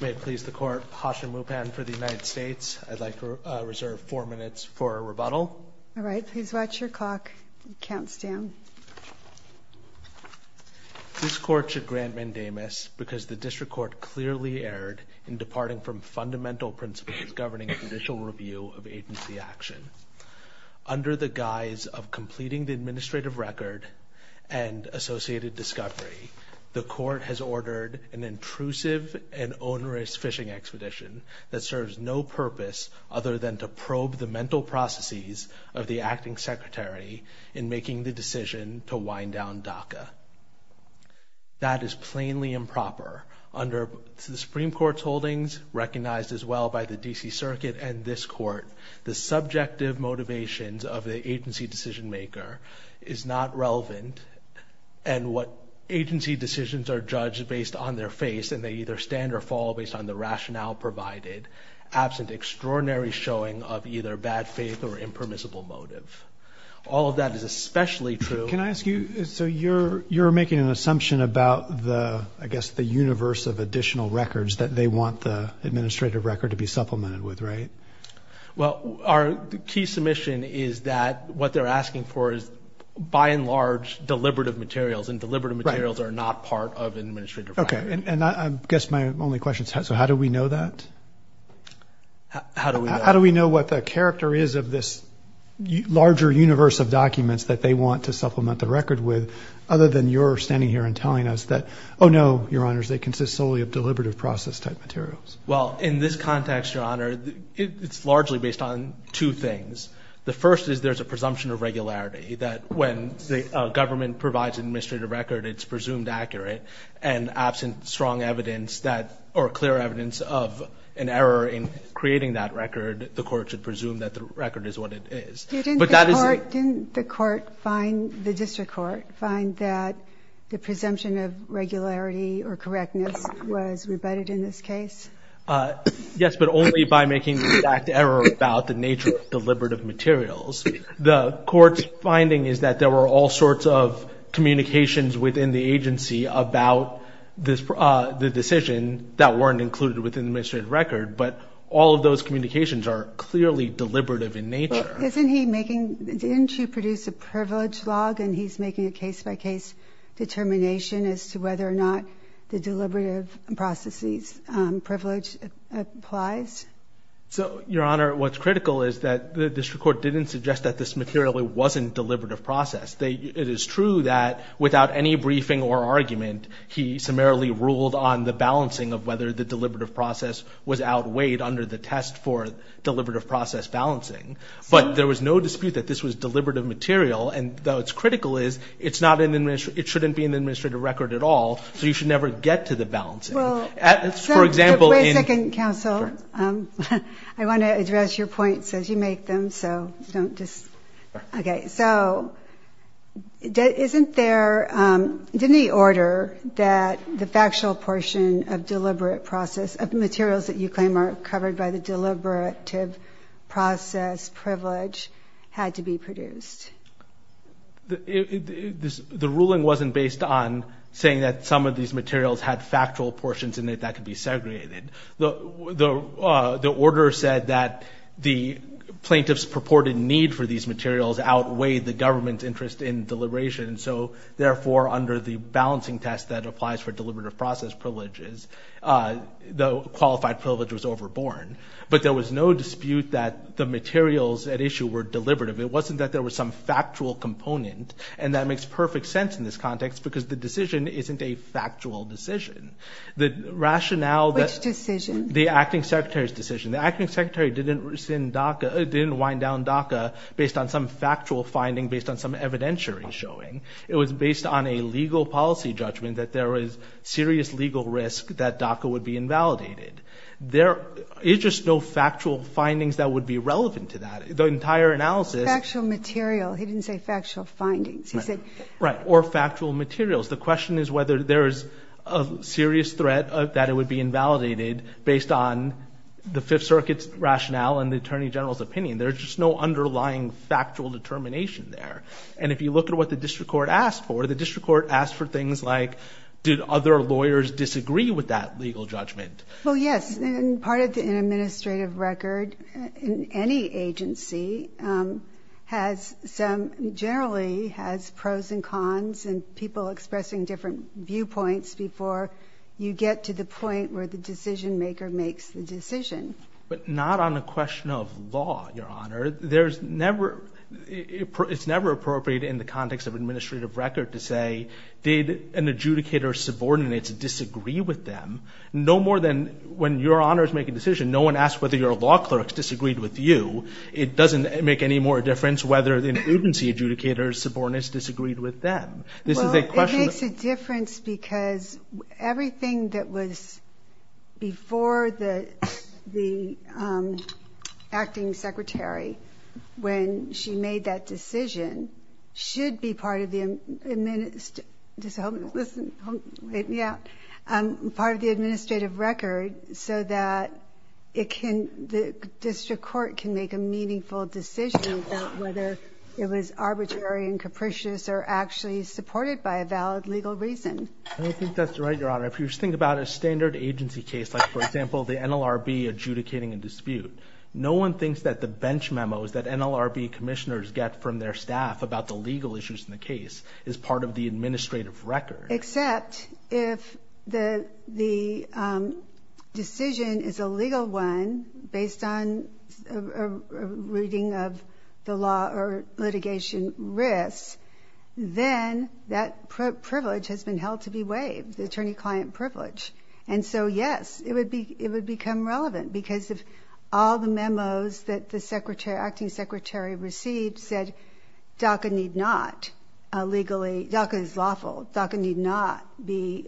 May it please the Court, Hasha Mupan for the United States. I'd like to reserve four minutes for a rebuttal. All right, please watch your clock. Counts down. This Court should grant mandamus because the District Court clearly erred in departing from fundamental principles governing judicial review of agency action. Under the guise of completing the administrative record and associated discovery, the Court has ordered an intrusive and onerous fishing expedition that serves no purpose other than to probe the mental processes of the Acting Secretary in making the decision to wind down DACA. That is plainly improper. Under the Supreme Court's holdings, recognized as well by the D.C. Circuit and this Court, the subjective motivations of the agency decision maker is not relevant and what agency decisions are judged based on their face and they either stand or fall based on the rationale provided, absent extraordinary showing of either bad faith or impermissible motive. All of that is especially true. Can I ask you, so you're making an assumption about the, I guess, the universe of additional records that they want the administrative record to be supplemented with, right? Well, our key submission is that what they're asking for is, by and large, deliberative materials and deliberative materials are not part of an administrative record. Okay, and I guess my only question is, so how do we know that? How do we know? How do we know what the character is of this larger universe of documents that they want to supplement the record with, other than you're standing here and telling us that, oh no, your honors, they consist solely of deliberative process type materials? Well, in this context, your honor, it's largely based on two things. The first is there's a presumption of regularity that when the government provides an administrative record, it's presumed accurate and absent strong evidence that, or clear evidence of an error in creating that record, the court should presume that the record is what it is. Didn't the court find, the district court find that the presumption of regularity or correctness was rebutted in this case? Yes, but only by making the exact error about the nature of deliberative materials. The court's finding is that there were all sorts of communications within the agency about the decision that weren't included within the administrative record, but all of those communications are clearly deliberative in nature. Isn't he making, didn't you produce a privilege log and he's making a case by case determination as to whether or not the deliberative processes privilege applies? So, your honor, what's critical is that the district court didn't suggest that this material wasn't deliberative process. It is true that without any briefing or argument, he summarily ruled on the balancing of whether the deliberative process was outweighed under the test for deliberative process balancing. But there was no dispute that this was deliberative material. And though it's critical is, it's not an administrative, it shouldn't be an administrative record at all. So you should never get to the balancing. For example. Wait a second, counsel. I want to address your points as you make them. So don't just. OK, so isn't there any order that the factual portion of deliberate process of materials that you claim are covered by the deliberative process privilege had to be produced? The ruling wasn't based on saying that some of these materials had factual portions in it that could be segregated. The order said that the plaintiff's purported need for these materials outweighed the government's interest in deliberation. So, therefore, under the balancing test that applies for deliberative process privileges, the qualified privilege was overborne. But there was no dispute that the materials at issue were deliberative. It wasn't that there was some factual component. And that makes perfect sense in this context because the decision isn't a factual decision. The rationale that. Which decision? The acting secretary's decision. The acting secretary didn't wind down DACA based on some factual finding, based on some evidentiary showing. It was based on a legal policy judgment that there was serious legal risk that DACA would be invalidated. There is just no factual findings that would be relevant to that. The entire analysis. Factual material. He didn't say factual findings. He said. Right. Or factual materials. The question is whether there is a serious threat that it would be invalidated based on the Fifth Circuit's rationale and the attorney general's opinion. There's just no underlying factual determination there. And if you look at what the district court asked for, the district court asked for things like, did other lawyers disagree with that legal judgment? Well, yes. And part of the administrative record in any agency has some generally has pros and cons and people expressing different viewpoints before you get to the point where the decision maker makes the decision. But not on a question of law, Your Honor. It's never appropriate in the context of administrative record to say, did an adjudicator subordinate disagree with them? No more than when Your Honor is making a decision, no one asks whether your law clerks disagreed with you. It doesn't make any more difference whether an agency adjudicator subordinate disagreed with them. This is a question. It makes a difference because everything that was before the acting secretary, when she made that decision, should be part of the administrative record so that the district court can make a meaningful decision about whether it was arbitrary and capricious or actually supported by a valid legal reason. I think that's right, Your Honor. If you think about a standard agency case, like, for example, the NLRB adjudicating a dispute, no one thinks that the bench memos that NLRB commissioners get from their staff about the legal issues in the case is part of the administrative record. Except if the decision is a legal one based on a reading of the law or litigation risks, then that privilege has been held to be waived, the attorney-client privilege. And so, yes, it would become relevant because if all the memos that the acting secretary received said DACA is lawful, DACA need not be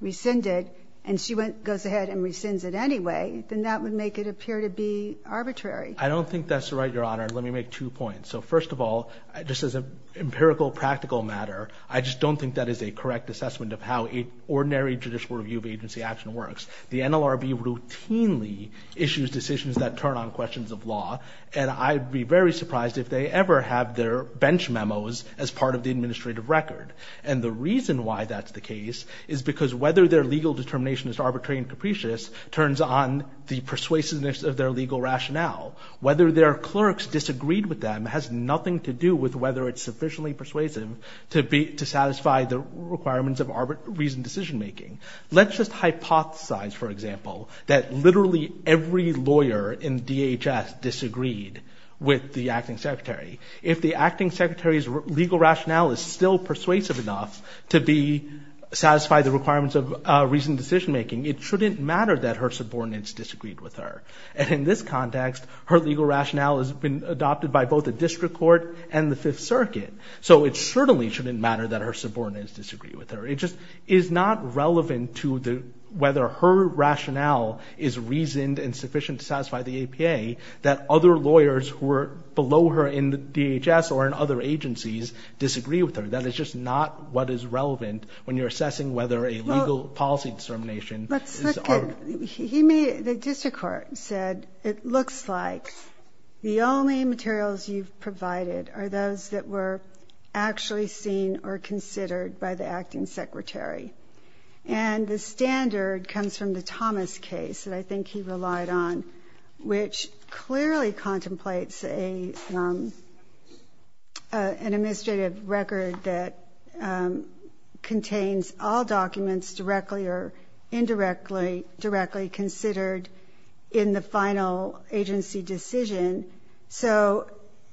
rescinded, and she goes ahead and rescinds it anyway, then that would make it appear to be arbitrary. I don't think that's right, Your Honor. Let me make two points. So first of all, just as an empirical practical matter, I just don't think that is a correct assessment of how an ordinary judicial review of agency action works. The NLRB routinely issues decisions that turn on questions of law, and I'd be very surprised if they ever have their bench memos as part of the administrative record. And the reason why that's the case is because whether their legal determination is arbitrary and capricious turns on the persuasiveness of their legal rationale. Whether their clerks disagreed with them has nothing to do with whether it's sufficiently persuasive to satisfy the requirements of reasoned decision making. Let's just hypothesize, for example, that literally every lawyer in DHS disagreed with the acting secretary. If the acting secretary's legal rationale is still persuasive enough to satisfy the requirements of reasoned decision making, it shouldn't matter that her subordinates disagreed with her. And in this context, her legal rationale has been adopted by both the district court and the Fifth Circuit. So it certainly shouldn't matter that her subordinates disagreed with her. It just is not relevant to whether her rationale is reasoned and sufficient to satisfy the APA that other lawyers who are below her in the DHS or in other agencies disagree with her. That is just not what is relevant when you're assessing whether a legal policy determination is arbitrary. The district court said it looks like the only materials you've provided are those that were actually seen or considered by the acting secretary. And the standard comes from the Thomas case that I think he relied on, which clearly contemplates an administrative record that contains all documents directly or indirectly considered in the final agency decision. So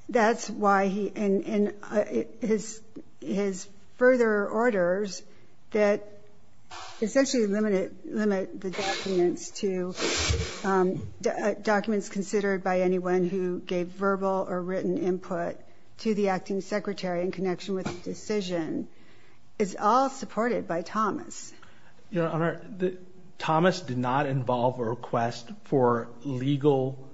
that's why he and his further orders that essentially limit the documents to documents considered by anyone who gave verbal or written input to the acting secretary in connection with the decision is all supported by Thomas. Your Honor, Thomas did not involve a request for legal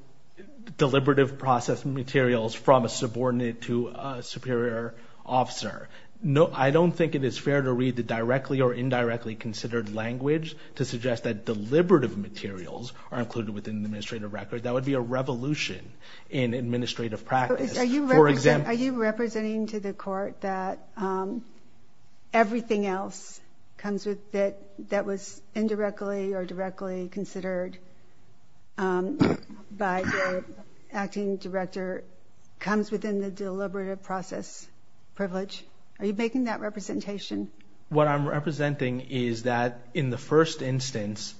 deliberative process materials from a subordinate to a superior officer. I don't think it is fair to read the directly or indirectly considered language to suggest that deliberative materials are included within the administrative record. That would be a revolution in administrative practice. Are you representing to the court that everything else that was indirectly or directly considered by the acting director comes within the deliberative process privilege? Are you making that representation? What I'm representing is that in the first instance,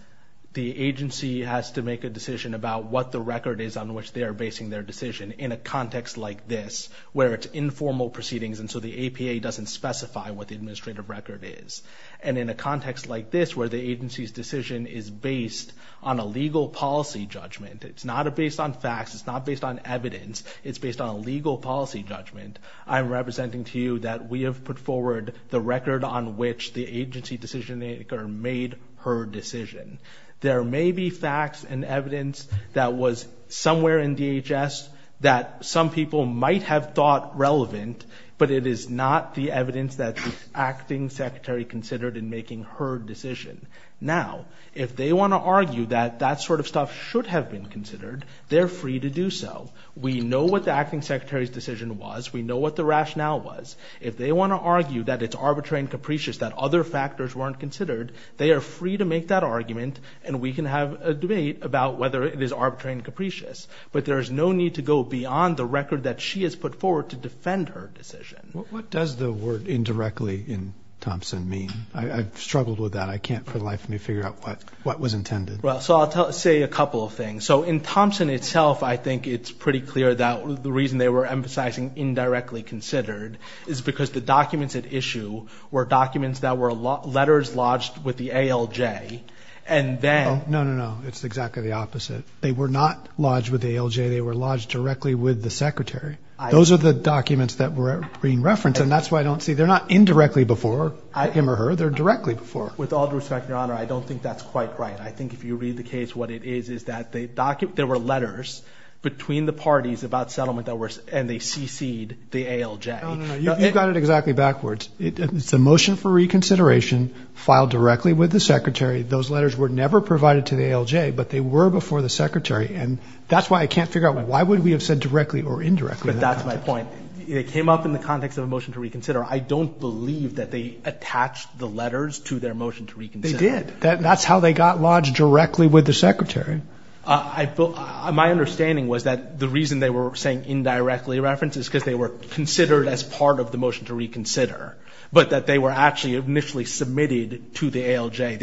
the agency has to make a decision about what the record is on which they are basing their decision in a context like this where it's informal proceedings and so the APA doesn't specify what the administrative record is. And in a context like this where the agency's decision is based on a legal policy judgment, it's not based on facts, it's not based on evidence, it's based on a legal policy judgment, I'm representing to you that we have put forward the record on which the agency decision maker made her decision. There may be facts and evidence that was somewhere in DHS that some people might have thought relevant, but it is not the evidence that the acting secretary considered in making her decision. Now, if they want to argue that that sort of stuff should have been considered, they're free to do so. We know what the acting secretary's decision was, we know what the rationale was. If they want to argue that it's arbitrary and capricious that other factors weren't considered, they are free to make that argument and we can have a debate about whether it is arbitrary and capricious. But there is no need to go beyond the record that she has put forward to defend her decision. What does the word indirectly in Thompson mean? I've struggled with that. I can't for the life of me figure out what was intended. Well, so I'll say a couple of things. So in Thompson itself, I think it's pretty clear that the reason they were emphasizing indirectly considered is because the documents at issue were documents that were letters lodged with the ALJ and then. No, no, no. It's exactly the opposite. They were not lodged with the ALJ. They were lodged directly with the secretary. Those are the documents that were being referenced, and that's why I don't see. They're not indirectly before him or her. They're directly before. With all due respect, Your Honor, I don't think that's quite right. I think if you read the case, what it is is that there were letters between the parties about settlement and they cc'd the ALJ. No, no, no. You've got it exactly backwards. It's a motion for reconsideration filed directly with the secretary. Those letters were never provided to the ALJ, but they were before the secretary, and that's why I can't figure out why would we have said directly or indirectly. But that's my point. It came up in the context of a motion to reconsider. I don't believe that they attached the letters to their motion to reconsider. They did. That's how they got lodged, directly with the secretary. My understanding was that the reason they were saying indirectly referenced is because they were considered as part of the motion to reconsider, but that they were actually initially submitted to the ALJ.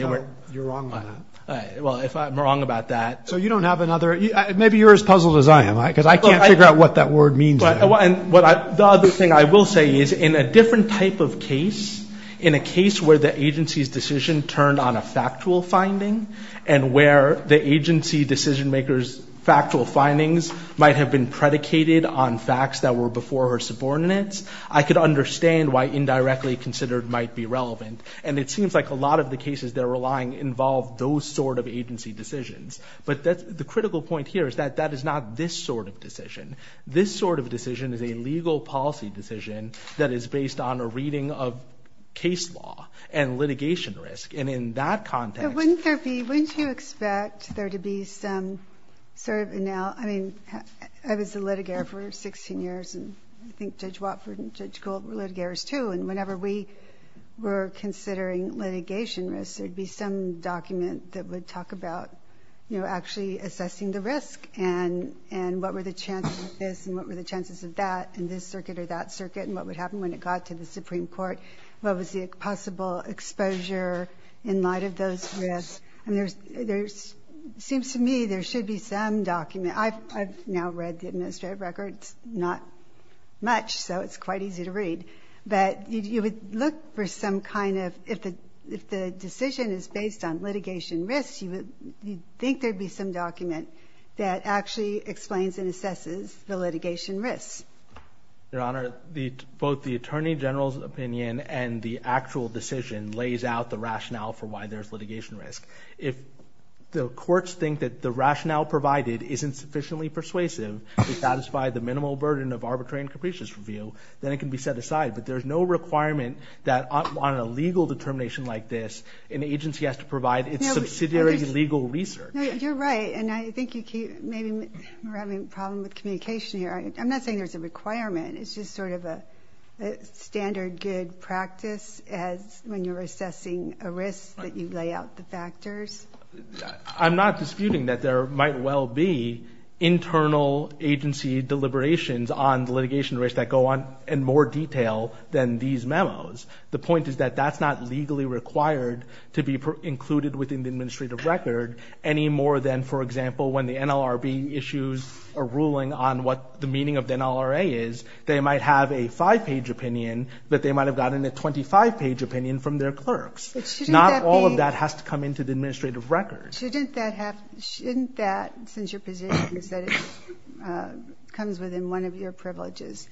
You're wrong on that. Well, if I'm wrong about that. So you don't have another? Maybe you're as puzzled as I am, because I can't figure out what that word means. The other thing I will say is in a different type of case, in a case where the agency's decision turned on a factual finding and where the agency decision maker's factual findings might have been predicated on facts that were before her subordinates, I could understand why indirectly considered might be relevant. And it seems like a lot of the cases they're relying involve those sort of agency decisions. But the critical point here is that that is not this sort of decision. This sort of decision is a legal policy decision that is based on a reading of case law and litigation risk. And in that context. But wouldn't there be, wouldn't you expect there to be some sort of, and now, I mean, I was a litigator for 16 years, and I think Judge Watford and Judge Gould were litigators too, and whenever we were considering litigation risk, there would be some document that would talk about, you know, actually assessing the risk and what were the chances of this and what were the chances of that in this circuit or that circuit and what would happen when it got to the Supreme Court. What was the possible exposure in light of those risks? I mean, there seems to me there should be some document. I've now read the administrative records not much, so it's quite easy to read. But you would look for some kind of, if the decision is based on litigation risk, you would think there would be some document that actually explains and assesses the litigation risks. Your Honor, both the Attorney General's opinion and the actual decision lays out the rationale for why there's litigation risk. If the courts think that the rationale provided isn't sufficiently persuasive to satisfy the minimal burden of arbitrary and capricious review, then it can be set aside. But there's no requirement that on a legal determination like this, an agency has to provide its subsidiary legal research. No, you're right, and I think you keep, maybe we're having a problem with communication here. I'm not saying there's a requirement. It's just sort of a standard good practice when you're assessing a risk that you lay out the factors. I'm not disputing that there might well be internal agency deliberations on litigation risk that go on in more detail than these memos. The point is that that's not legally required to be included within the administrative record any more than, for example, when the NLRB issues a ruling on what the meaning of the NLRA is, they might have a five-page opinion, but they might have gotten a 25-page opinion from their clerks. Not all of that has to come into the administrative record. Shouldn't that, since your position is that it comes within one of your privileges,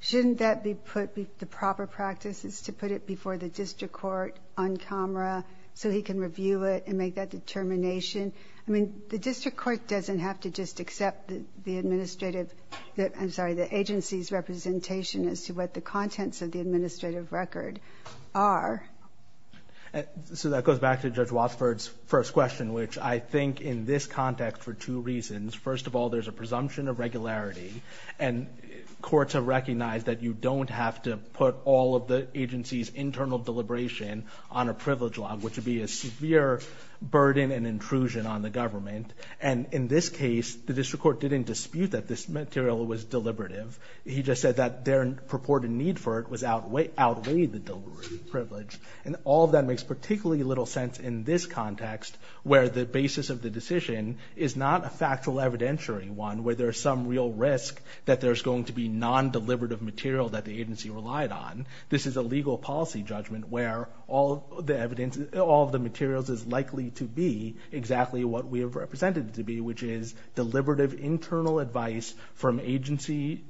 shouldn't that be put, the proper practice is to put it before the district court on camera so he can review it and make that determination? I mean, the district court doesn't have to just accept the administrative that, I'm sorry, the agency's representation as to what the contents of the administrative record are. So that goes back to Judge Wadsworth's first question, which I think in this context for two reasons. First of all, there's a presumption of regularity, and courts have recognized that you don't have to put all of the agency's internal deliberation on a privilege law, which would be a severe burden and intrusion on the government. And in this case, the district court didn't dispute that this material was deliberative. He just said that their purported need for it outweighed the deliberative privilege. And all of that makes particularly little sense in this context, where the basis of the decision is not a factual evidentiary one, where there's some real risk that there's going to be non-deliberative material that the agency relied on. This is a legal policy judgment where all the evidence, all the materials is likely to be exactly what we have represented it to be, which is deliberative internal advice from agency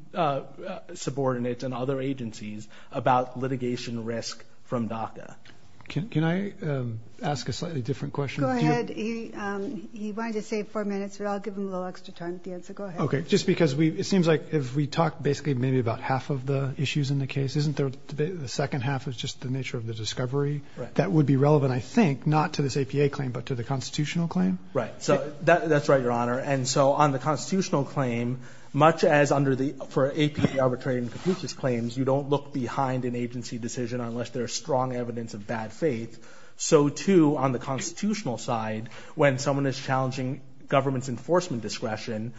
subordinates and other agencies about litigation risk from DACA. Can I ask a slightly different question? Go ahead. He wanted to save four minutes, but I'll give him a little extra time at the end, so go ahead. Okay. Just because it seems like if we talk basically maybe about half of the issues in the case, isn't the second half just the nature of the discovery? Right. That would be relevant, I think, not to this APA claim, but to the constitutional claim? Right. So that's right, Your Honor. And so on the constitutional claim, much as for APA arbitrary and completionist claims, you don't look behind an agency decision unless there's strong evidence of bad faith. So, too, on the constitutional side, when someone is challenging government's enforcement discretion,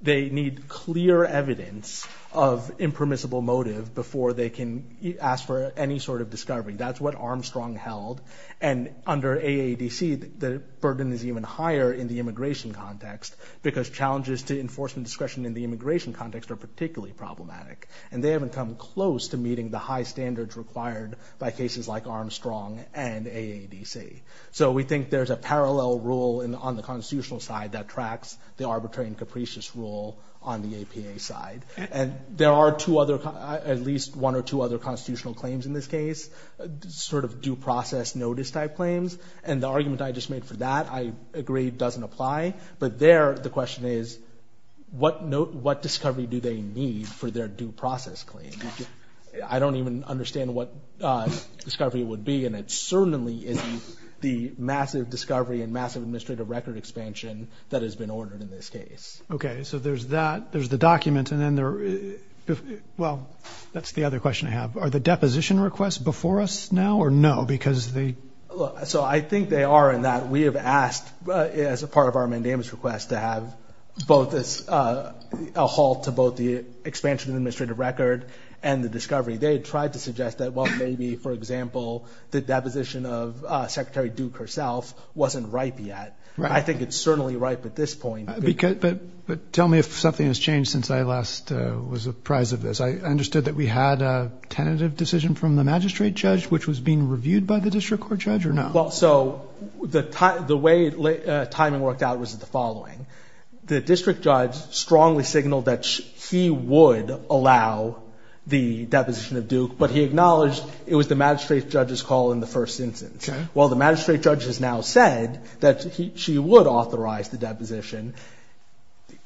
they need clear evidence of impermissible motive before they can ask for any sort of discovery. That's what Armstrong held. And under AADC, the burden is even higher in the immigration context because challenges to enforcement discretion in the immigration context are particularly problematic. And they haven't come close to meeting the high standards required by cases like Armstrong and AADC. So we think there's a parallel rule on the constitutional side that tracks the arbitrary and capricious rule on the APA side. And there are at least one or two other constitutional claims in this case, sort of due process notice type claims. And the argument I just made for that, I agree, doesn't apply. But there, the question is, what discovery do they need for their due process claim? I don't even understand what discovery it would be. And it certainly isn't the massive discovery and massive administrative record expansion that has been ordered in this case. Okay. So there's that. There's the document. And then there are – well, that's the other question I have. Are the deposition requests before us now or no? Because the – Look, so I think they are in that we have asked, as a part of our mandamus request, to have both a halt to both the expansion of administrative record and the discovery. They had tried to suggest that, well, maybe, for example, the deposition of Secretary Duke herself wasn't ripe yet. I think it's certainly ripe at this point. But tell me if something has changed since I last was apprised of this. I understood that we had a tentative decision from the magistrate judge which was being reviewed by the district court judge or no? Well, so the way timing worked out was the following. The district judge strongly signaled that he would allow the deposition of Duke, but he acknowledged it was the magistrate judge's call in the first instance. Okay. Well, the magistrate judge has now said that she would authorize the deposition.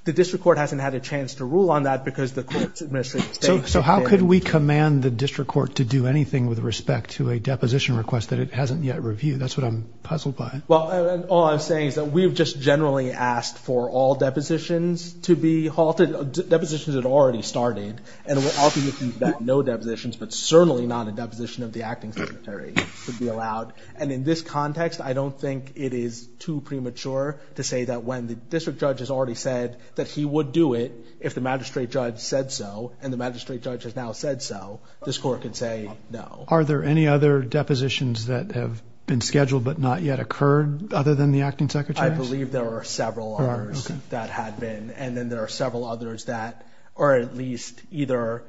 The district court hasn't had a chance to rule on that because the court's administrative statement didn't. So how could we command the district court to do anything with respect to a deposition request that it hasn't yet reviewed? That's what I'm puzzled by. Well, all I'm saying is that we've just generally asked for all depositions to be halted, depositions that already started. And I'll be making that no depositions, but certainly not a deposition of the acting secretary would be allowed. And in this context, I don't think it is too premature to say that when the district judge has already said that he would do it if the magistrate judge said so and the magistrate judge has now said so, this court can say no. Are there any other depositions that have been scheduled but not yet occurred other than the acting secretary? I believe there are several others that have been, and then there are several others that are at least either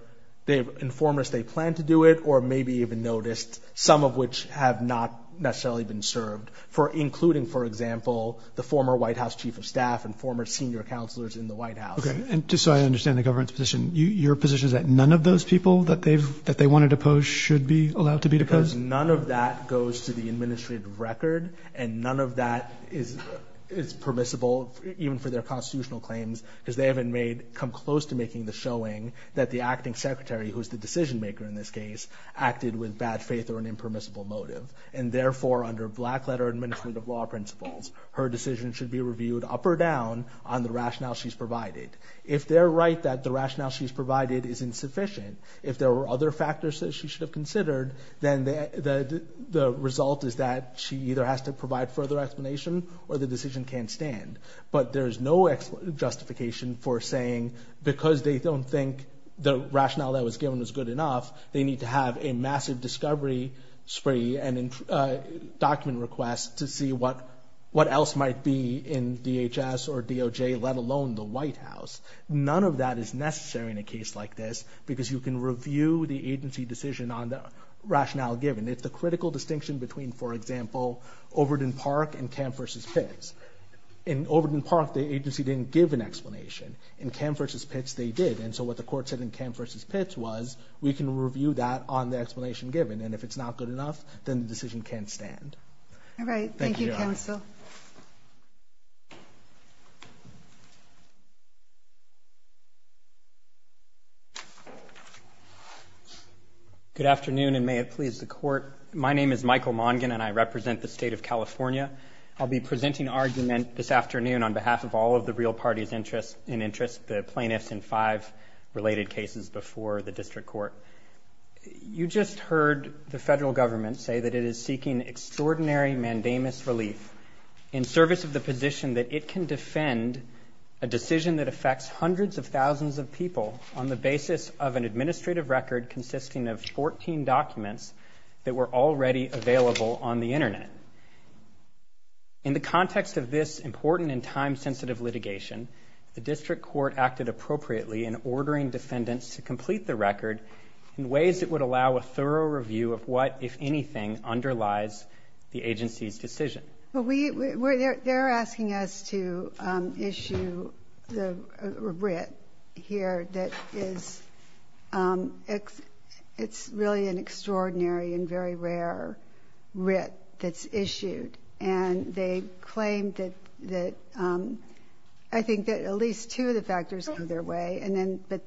they've informed us they plan to do it or maybe even noticed, some of which have not necessarily been served, including, for example, the former White House chief of staff and former senior counselors in the White House. Okay. And just so I understand the government's position, your position is that none of those people that they wanted to pose should be allowed to be deposed? Because none of that goes to the administrative record and none of that is permissible even for their constitutional claims because they haven't come close to making the showing that the acting secretary, who is the decision-maker in this case, acted with bad faith or an impermissible motive. And therefore, under black-letter administrative law principles, her decision should be reviewed up or down on the rationale she's provided. If they're right that the rationale she's provided is insufficient, if there are other factors that she should have considered, then the result is that she either has to provide further explanation or the decision can't stand. But there is no justification for saying, because they don't think the rationale that was given was good enough, they need to have a massive discovery spree and document request to see what else might be in DHS or DOJ, let alone the White House. None of that is necessary in a case like this because you can review the agency decision on the rationale given. It's the critical distinction between, for example, Overton Park and Kemp v. Pitts. In Overton Park, the agency didn't give an explanation. In Kemp v. Pitts, they did. And so what the court said in Kemp v. Pitts was, we can review that on the explanation given. And if it's not good enough, then the decision can't stand. All right. Thank you, counsel. Good afternoon, and may it please the court. My name is Michael Mongin, and I represent the state of California. I'll be presenting argument this afternoon on behalf of all of the real parties in interest, the plaintiffs in five related cases before the district court. You just heard the federal government say that it is seeking extraordinary mandamus relief in service of the position that it can defend a decision that affects hundreds of thousands of people on the basis of an administrative record consisting of 14 documents that were already available on the Internet. In the context of this important and time-sensitive litigation, the district court acted appropriately in ordering defendants to complete the record in ways that would allow a thorough review of what, if anything, underlies the agency's decision. They're asking us to issue a writ here that is really an extraordinary and very rare writ that's issued. And they claim that at least two of the factors go their way, but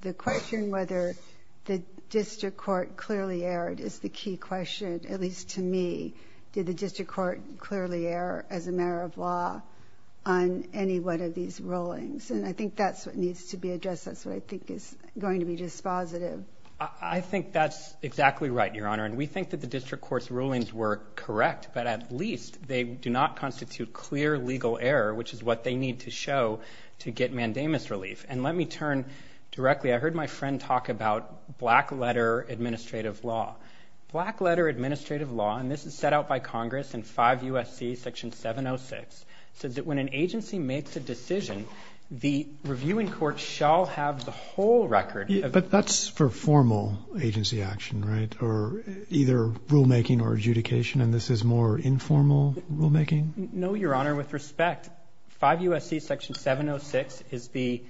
the question whether the district court clearly erred is the key question, at least to me. Did the district court clearly err as a matter of law on any one of these rulings? And I think that's what needs to be addressed. That's what I think is going to be dispositive. I think that's exactly right, Your Honor, and we think that the district court's rulings were correct, but at least they do not constitute clear legal error, which is what they need to show to get mandamus relief. And let me turn directly. I heard my friend talk about black-letter administrative law. Black-letter administrative law, and this is set out by Congress in 5 U.S.C. Section 706, says that when an agency makes a decision, the reviewing court shall have the whole record. But that's for formal agency action, right, or either rulemaking or adjudication, and this is more informal rulemaking? No, Your Honor, with respect. 5 U.S.C. Section 706 is the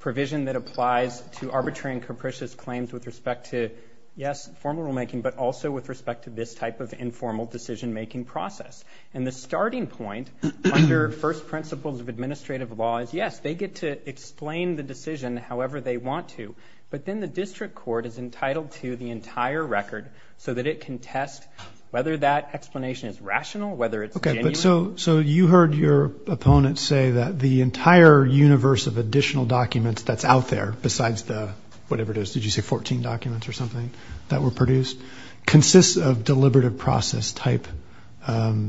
provision that applies to arbitrary and capricious claims with respect to, yes, formal rulemaking, but also with respect to this type of informal decision-making process. And the starting point under first principles of administrative law is, yes, they get to explain the decision however they want to, but then the district court is entitled to the entire record so that it can test whether that explanation is rational, whether it's genuine. But so you heard your opponent say that the entire universe of additional documents that's out there, besides the whatever it is, did you say 14 documents or something that were produced, consists of deliberative process-type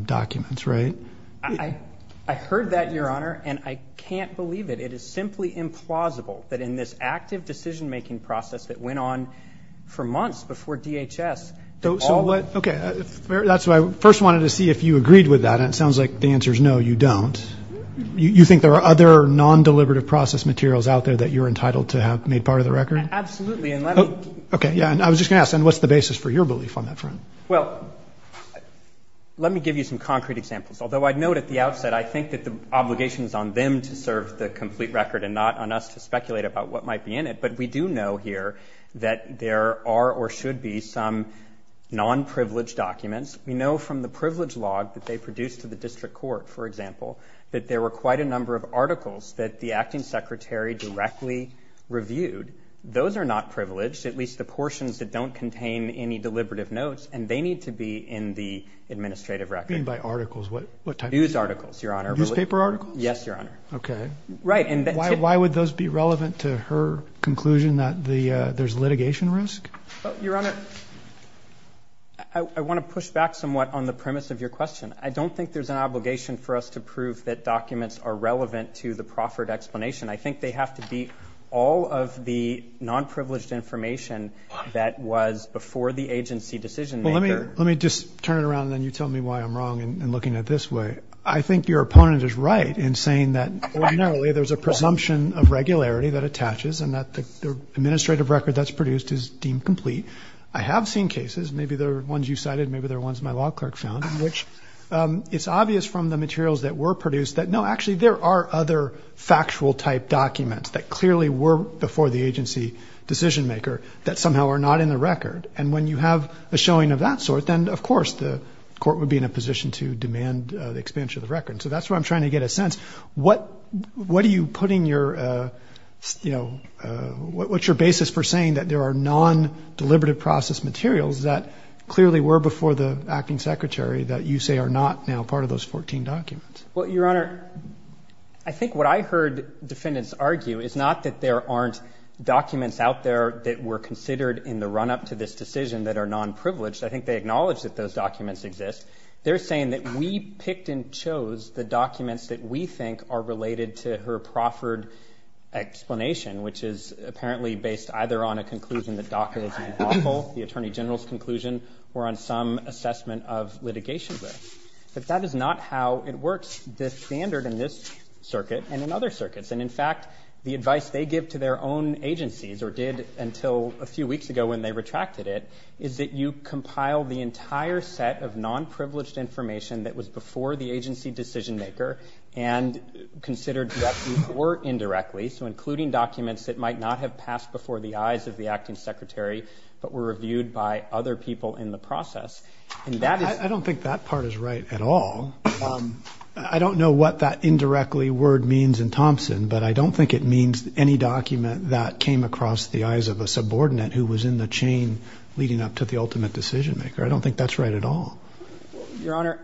documents, right? I heard that, Your Honor, and I can't believe it. It is simply implausible that in this active decision-making process that went on for months before DHS, that all of it. Okay, that's what I first wanted to see if you agreed with that. It sounds like the answer is no, you don't. You think there are other non-deliberative process materials out there that you're entitled to have made part of the record? Absolutely. Okay, yeah, and I was just going to ask, then, what's the basis for your belief on that front? Well, let me give you some concrete examples. Although I'd note at the outset I think that the obligation is on them to serve the complete record and not on us to speculate about what might be in it, but we do know here that there are or should be some non-privileged documents. We know from the privilege log that they produced to the district court, for example, that there were quite a number of articles that the acting secretary directly reviewed. Those are not privileged, at least the portions that don't contain any deliberative notes, and they need to be in the administrative record. You mean by articles, what type? News articles, Your Honor. Newspaper articles? Yes, Your Honor. Okay. Why would those be relevant to her conclusion that there's litigation risk? Your Honor, I want to push back somewhat on the premise of your question. I don't think there's an obligation for us to prove that documents are relevant to the proffered explanation. I think they have to be all of the non-privileged information that was before the agency decision-maker. Well, let me just turn it around, and then you tell me why I'm wrong in looking at it this way. I think your opponent is right in saying that ordinarily there's a presumption of regularity that attaches and that the administrative record that's produced is deemed complete. I have seen cases, maybe they're ones you cited, maybe they're ones my law clerk found, in which it's obvious from the materials that were produced that, no, actually there are other factual-type documents that clearly were before the agency decision-maker that somehow are not in the record. And when you have a showing of that sort, then of course the court would be in a position to demand the expansion of the record. So that's where I'm trying to get a sense. What are you putting your, you know, what's your basis for saying that there are non-deliberative process materials that clearly were before the acting secretary that you say are not now part of those 14 documents? Well, Your Honor, I think what I heard defendants argue is not that there aren't documents out there that were considered in the run-up to this decision that are non-privileged. I think they acknowledge that those documents exist. They're saying that we picked and chose the documents that we think are related to her proffered explanation, which is apparently based either on a conclusion that DACA is unlawful, the attorney general's conclusion, or on some assessment of litigation risk. But that is not how it works. The standard in this circuit and in other circuits, and in fact the advice they give to their own agencies, or did until a few weeks ago when they retracted it, is that you compiled the entire set of non-privileged information that was before the agency decision maker and considered that these were indirectly, so including documents that might not have passed before the eyes of the acting secretary, but were reviewed by other people in the process. I don't think that part is right at all. I don't know what that indirectly word means in Thompson, but I don't think it means any document that came across the eyes of a decision maker. I don't think that's right at all. Your Honor,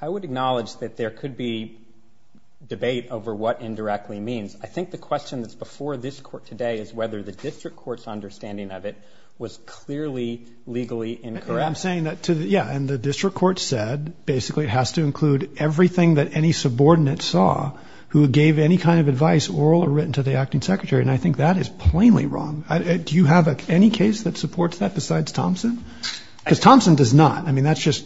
I would acknowledge that there could be debate over what indirectly means. I think the question that's before this court today is whether the district court's understanding of it was clearly legally incorrect. I'm saying that, yeah, and the district court said basically it has to include everything that any subordinate saw who gave any kind of advice, oral or written to the acting secretary. And I think that is plainly wrong. Do you have any case that supports that besides Thompson? Because Thompson does not. I mean, that's just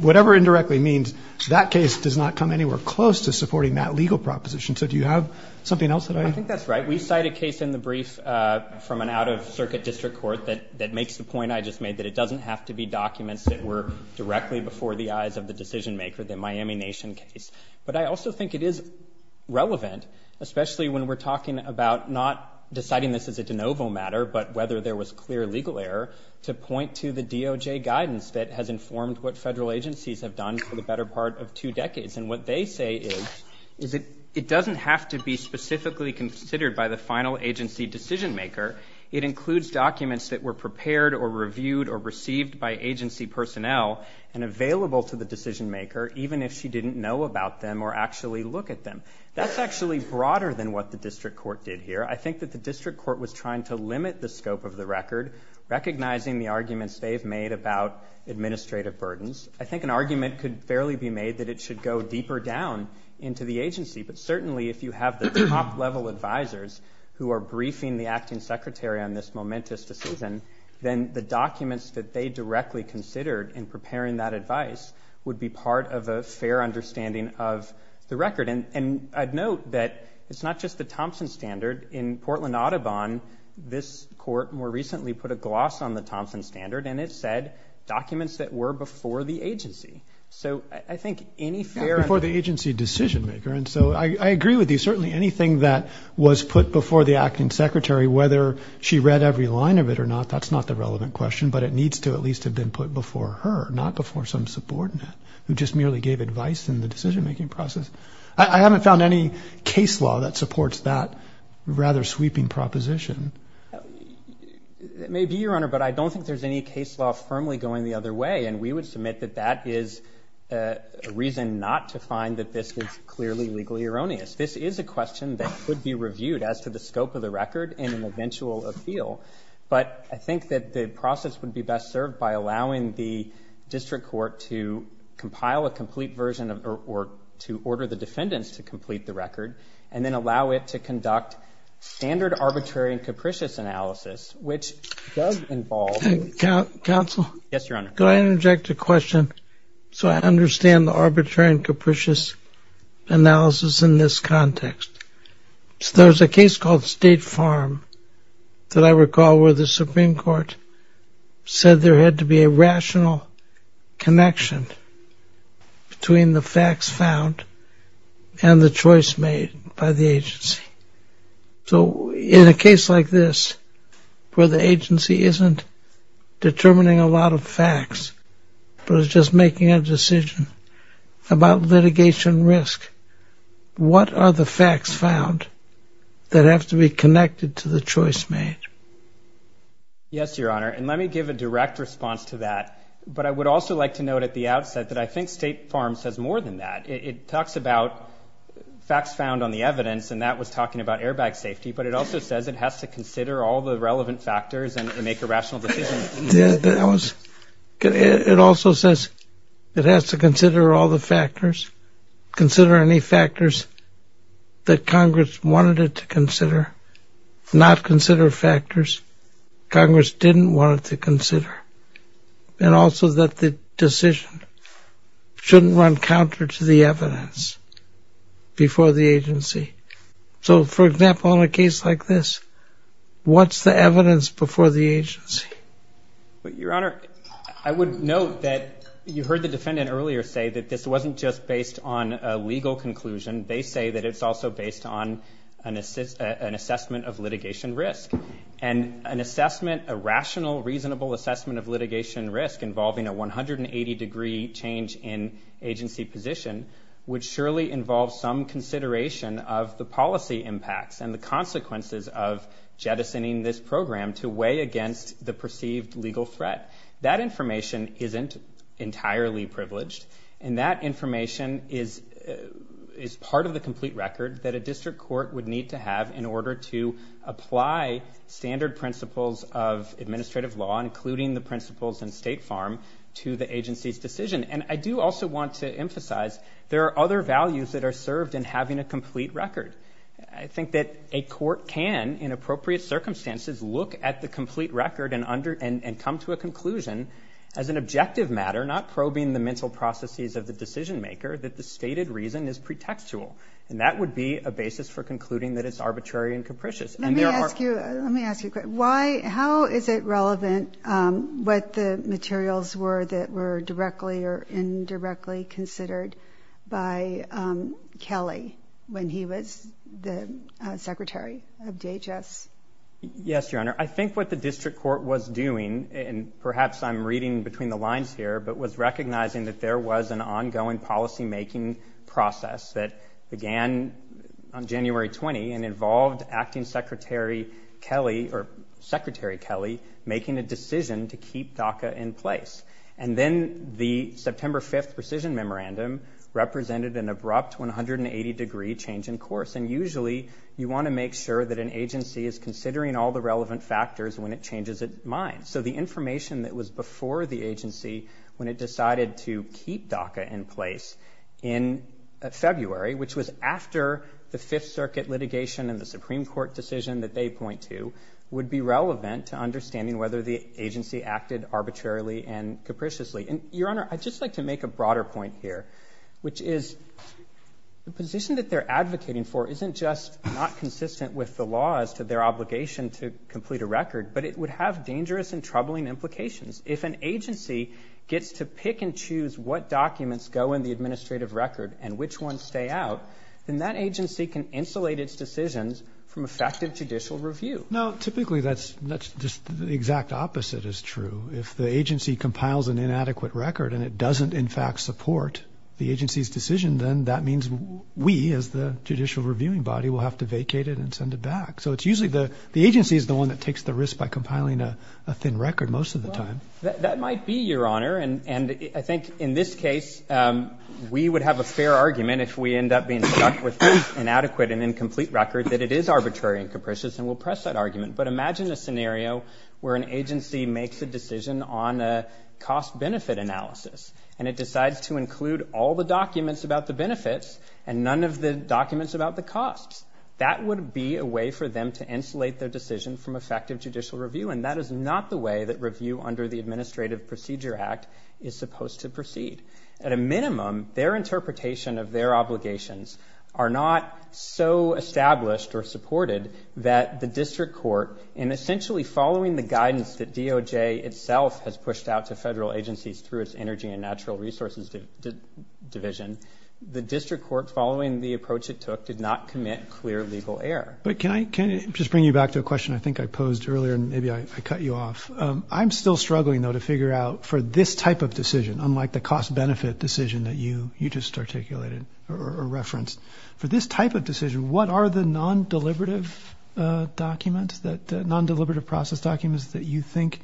whatever indirectly means that case does not come anywhere close to supporting that legal proposition. So do you have something else? I think that's right. We cite a case in the brief from an out of circuit district court that, that makes the point I just made, that it doesn't have to be documents that were directly before the eyes of the decision maker, the Miami nation case. But I also think it is relevant, especially when we're talking about not deciding this as a de novo matter, but whether there was clear legal error to point to the DOJ guidance that has informed what federal agencies have done for the better part of two decades. And what they say is, is it, it doesn't have to be specifically considered by the final agency decision maker. It includes documents that were prepared or reviewed or received by agency personnel and available to the decision maker, even if she didn't know about them or actually look at them. That's actually broader than what the district court did here. I think that the district court was trying to limit the scope of the record, recognizing the arguments they've made about administrative burdens. I think an argument could fairly be made that it should go deeper down into the agency, but certainly if you have the top level advisors who are briefing the acting secretary on this momentous decision, then the documents that they directly considered in preparing that advice would be part of a fair understanding of the record. And I'd note that it's not just the Thompson standard in Portland, Audubon, this court more recently put a gloss on the Thompson standard and it said documents that were before the agency. So I think any fair... Before the agency decision maker. And so I agree with you. Certainly anything that was put before the acting secretary, whether she read every line of it or not, that's not the relevant question, but it needs to at least have been put before her, not before some subordinate who just merely gave advice in the decision making process. I haven't found any case law that supports that rather sweeping proposition. It may be, Your Honor, but I don't think there's any case law firmly going the other way. And we would submit that that is a reason not to find that this is clearly legally erroneous. This is a question that could be reviewed as to the scope of the record in an eventual appeal. But I think that the process would be best served by allowing the district court to compile a complete version of, or to order the defendants to complete the record and then allow it to conduct standard arbitrary and capricious analysis, which does involve... Counsel? Yes, Your Honor. Could I interject a question? So I understand the arbitrary and capricious analysis in this context. There's a case called State Farm that I recall where the Supreme Court said there had to be a rational connection between the facts found and the choice made by the agency. So in a case like this where the agency isn't determining a lot of facts but is just making a decision about litigation risk, what are the facts found that have to be connected to the choice made? Yes, Your Honor. And let me give a direct response to that. But I would also like to note at the outset that I think State Farm says more than that. It talks about facts found on the evidence, and that was talking about airbag safety. But it also says it has to consider all the relevant factors and make a rational decision. It also says it has to consider all the factors, consider any factors that Congress wanted it to consider, not consider factors Congress didn't want it to consider. And also that the decision shouldn't run counter to the evidence before the agency. So, for example, in a case like this, what's the evidence before the agency? Your Honor, I would note that you heard the defendant earlier say that this wasn't just based on a legal conclusion. They say that it's also based on an assessment of litigation risk. And an assessment, a rational, reasonable assessment of litigation risk involving a 180-degree change in agency position would surely involve some consideration of the policy impacts and the consequences of jettisoning this program to weigh against the perceived legal threat. That information isn't entirely privileged, and that information is part of the complete record that a district court would need to have in order to apply standard principles of administrative law, including the principles in State Farm, to the agency's decision. And I do also want to emphasize there are other values that are served in having a complete record. I think that a court can, in appropriate circumstances, look at the complete record and come to a conclusion as an objective matter, not probing the mental processes of the decision maker, that the stated reason is pretextual. And that would be a basis for concluding that it's arbitrary and capricious. Let me ask you a question. How is it relevant what the materials were that were directly or indirectly considered by Kelly when he was the secretary of DHS? Yes, Your Honor. I think what the district court was doing, and perhaps I'm reading between the lines here, but was recognizing that there was an ongoing policymaking process that began on January 20 and involved Acting Secretary Kelly, or Secretary Kelly, making a decision to keep DACA in place. And then the September 5th precision memorandum represented an abrupt 180-degree change in course. And usually you want to make sure that an agency is considering all the relevant factors when it changes its mind. So the information that was before the agency when it decided to keep DACA in place in February, which was after the Fifth Circuit litigation and the Supreme Court decision that they point to, would be relevant to understanding whether the agency acted arbitrarily and capriciously. And, Your Honor, I'd just like to make a broader point here, which is the position that they're advocating for isn't just not consistent with the laws to their obligation to complete a record, but it would have dangerous and troubling implications. If an agency gets to pick and choose what documents go in the administrative record and which ones stay out, then that agency can insulate its decisions from effective judicial review. No, typically that's just the exact opposite is true. If the agency compiles an inadequate record and it doesn't, in fact, support the agency's decision, then that means we, as the judicial reviewing body, will have to vacate it and send it back. So it's usually the agency is the one that takes the risk by compiling a thin record most of the time. That might be, Your Honor. And I think in this case we would have a fair argument if we end up being stuck with an inadequate and incomplete record that it is arbitrary and capricious, and we'll press that argument. But imagine a scenario where an agency makes a decision on a cost-benefit analysis, and it decides to include all the documents about the benefits and none of the documents about the costs. That would be a way for them to insulate their decision from effective judicial review, and that is not the way that review under the Administrative Procedure Act is supposed to proceed. At a minimum, their interpretation of their obligations are not so established or supported that the district court, in essentially following the guidance that DOJ itself has pushed out to federal agencies through its Energy and Natural Resources Division, the district court, following the approach it took, did not commit clear legal error. But can I just bring you back to a question I think I posed earlier, and maybe I cut you off. I'm still struggling, though, to figure out for this type of decision, unlike the cost-benefit decision that you just articulated or referenced, for this type of decision, what are the non-deliberative documents, the non-deliberative process documents that you think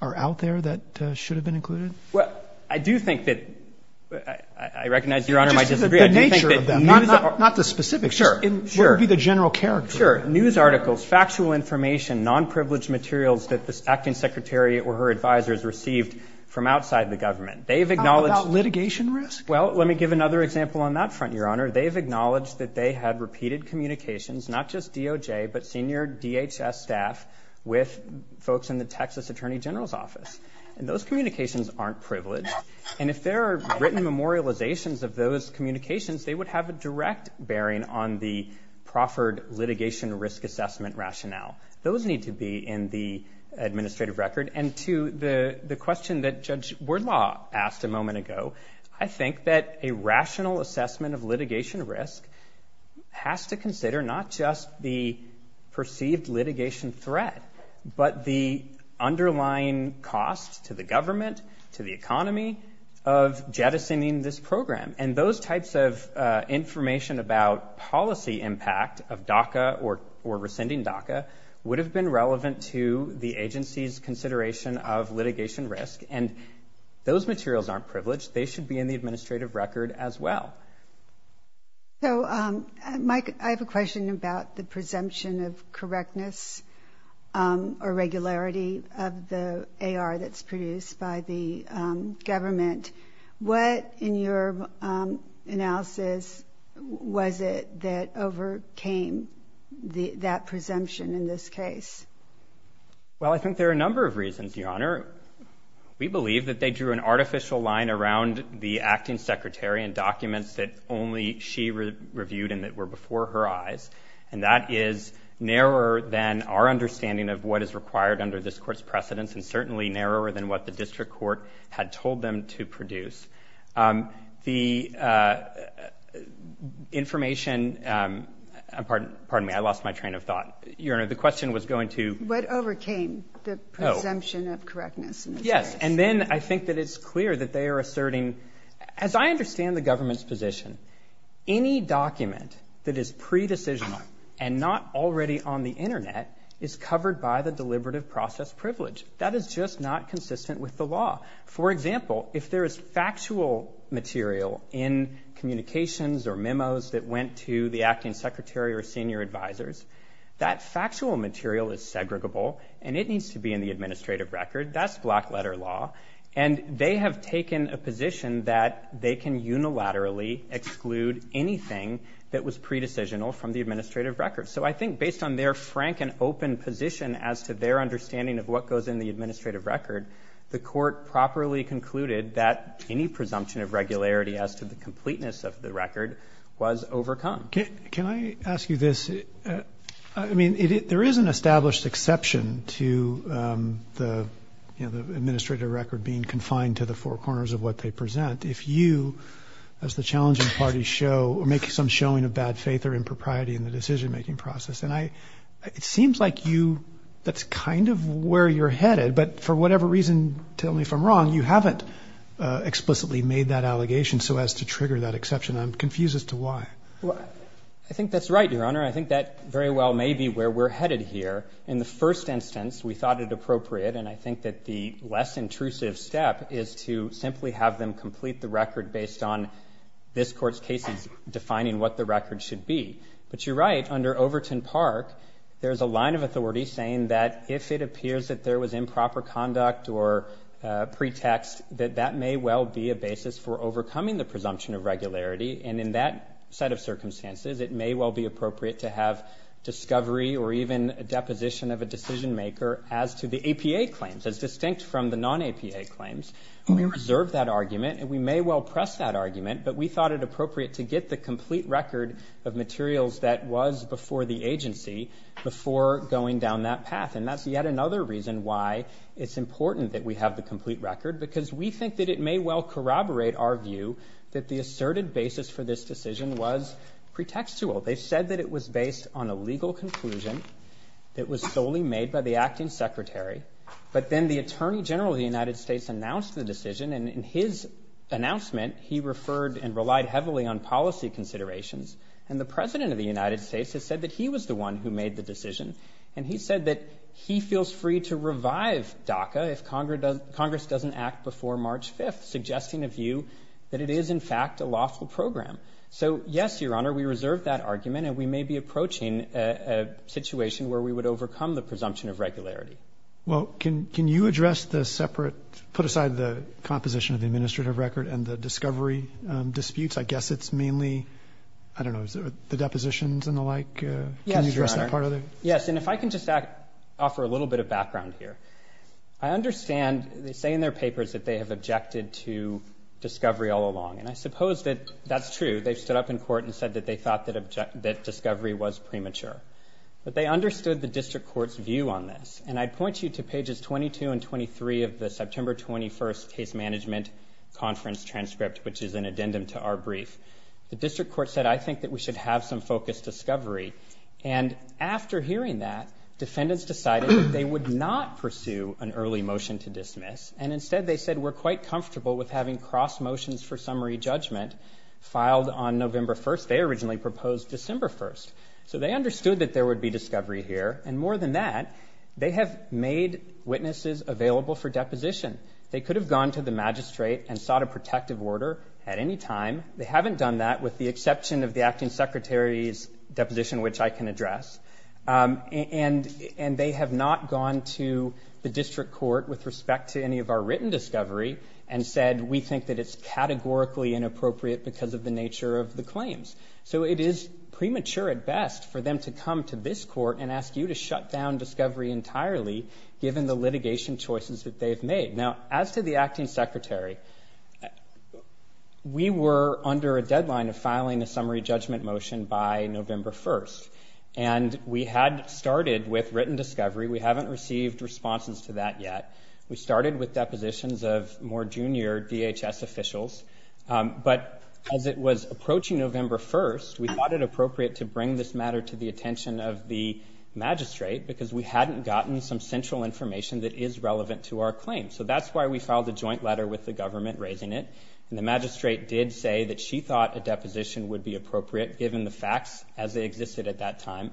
are out there that should have been included? Well, I do think that, I recognize Your Honor might disagree, I do think that news articles. Not the specifics. Sure. What would be the general character? Sure. News articles, factual information, non-privileged materials that this acting secretary or her advisers received from outside the government. They have acknowledged. How about litigation risk? Well, let me give another example on that front, Your Honor. They have acknowledged that they had repeated communications, not just DOJ, but senior DHS staff with folks in the Texas Attorney General's Office. And those communications aren't privileged. And if there are written memorializations of those communications, they would have a direct bearing on the proffered litigation risk assessment rationale. Those need to be in the administrative record. And to the question that Judge Bordlaw asked a moment ago, I think that a rational assessment of litigation risk has to consider not just the perceived litigation threat, but the underlying cost to the government, to the economy of jettisoning this program. And those types of information about policy impact of DACA or rescinding DACA would have been relevant to the agency's consideration of litigation risk. And those materials aren't privileged. They should be in the administrative record as well. So, Mike, I have a question about the presumption of correctness. Irregularity of the AR that's produced by the government. What, in your analysis, was it that overcame that presumption in this case? Well, I think there are a number of reasons, Your Honor. We believe that they drew an artificial line around the acting secretary and documents that only she reviewed and that were before her eyes. And that is narrower than our understanding of what is required under this court's precedents. And certainly narrower than what the district court had told them to produce. The information, pardon me, I lost my train of thought. Your Honor, the question was going to. What overcame the presumption of correctness? Yes. And then I think that it's clear that they are asserting, as I understand the government's position, any document that is pre-decision and not already on the Internet is covered by the deliberative process privilege. That is just not consistent with the law. For example, if there is factual material in communications or memos that went to the acting secretary or senior advisors, that factual material is segregable and it needs to be in the administrative record. That's black letter law. And they have taken a position that they can unilaterally exclude anything that was pre-decisional from the administrative record. So I think based on their frank and open position as to their understanding of what goes in the administrative record, the court properly concluded that any presumption of regularity as to the completeness of the record was overcome. Can I ask you this? I mean, there is an established exception to the, you know, the administrative record being confined to the four corners of what they present. If you, as the challenging party show or make some showing of bad faith or impropriety in the decision making process. And I, it seems like you, that's kind of where you're headed, but for whatever reason, tell me if I'm wrong, you haven't explicitly made that allegation so as to trigger that exception. I'm confused as to why. Well, I think that's right, your honor. I think that very well may be where we're headed here. In the first instance, we thought it appropriate. And I think that the less intrusive step is to simply have them complete the record based on this court's cases, defining what the record should be. But you're right under Overton park. There's a line of authority saying that if it appears that there was improper conduct or a pretext that that may well be a basis for overcoming the presumption of regularity. And in that set of circumstances, it may well be appropriate to have discovery or even a deposition of a PA claims as distinct from the non APA claims. We reserve that argument and we may well press that argument, but we thought it appropriate to get the complete record of materials that was before the agency before going down that path. And that's yet another reason why it's important that we have the complete record, because we think that it may well corroborate our view that the asserted basis for this decision was pretextual. They said that it was based on a legal conclusion that was solely made by the acting secretary. But then the attorney general of the United States announced the decision. And in his announcement, he referred and relied heavily on policy considerations. And the president of the United States has said that he was the one who made the decision. And he said that he feels free to revive DACA. If Congress does Congress doesn't act before March 5th, suggesting a view that it is in fact a lawful program. So yes, we reserved that argument and we may be approaching a situation where we would overcome the presumption of regularity. Well, can, can you address the separate, put aside the composition of the administrative record and the discovery disputes? I guess it's mainly, I don't know, the depositions and the like, can you address that part of it? Yes. And if I can just offer a little bit of background here, I understand they say in their papers that they have objected to discovery all along. And I suppose that that's true. They've stood up in court and said that they thought that object that discovery was premature, but they understood the district court's view on this. And I'd point you to pages 22 and 23 of the September 21st case management conference transcript, which is an addendum to our brief. The district court said, I think that we should have some focused discovery. And after hearing that defendants decided that they would not pursue an early motion to dismiss. And instead they said we're quite comfortable with having cross motions for summary judgment filed on November 1st. They originally proposed December 1st. So they understood that there would be discovery here. And more than that, they have made witnesses available for deposition. They could have gone to the magistrate and sought a protective order at any time. They haven't done that with the exception of the acting secretary's deposition, which I can address. And they have not gone to the district court with respect to any of our written discovery and said, we think that it's categorically inappropriate because of the nature of the claims. So it is premature at best for them to come to this court and ask you to shut down discovery entirely given the litigation choices that they've made. Now, as to the acting secretary, we were under a deadline of filing a summary judgment motion by November 1st. And we had started with written discovery. We haven't received responses to that yet. We started with depositions of more junior DHS officials. But as it was approaching November 1st, we thought it appropriate to bring this matter to the attention of the magistrate because we hadn't gotten some central information that is relevant to our claim. So that's why we filed a joint letter with the government raising it. And the magistrate did say that she thought a deposition would be appropriate given the facts as they existed at that time.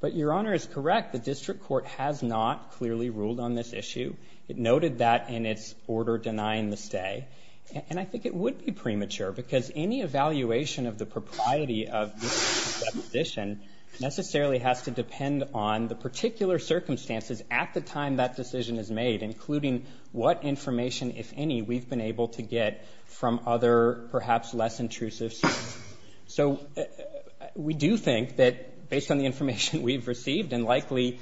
But your honor is correct. The district court has not clearly ruled on this issue. It noted that in its order denying the stay. And I think it would be premature because any evaluation of the propriety of this position necessarily has to depend on the particular circumstances at the time that decision is made, including what information if any we've been able to get from other perhaps less intrusive sources. So we do think that based on the information we've received and likely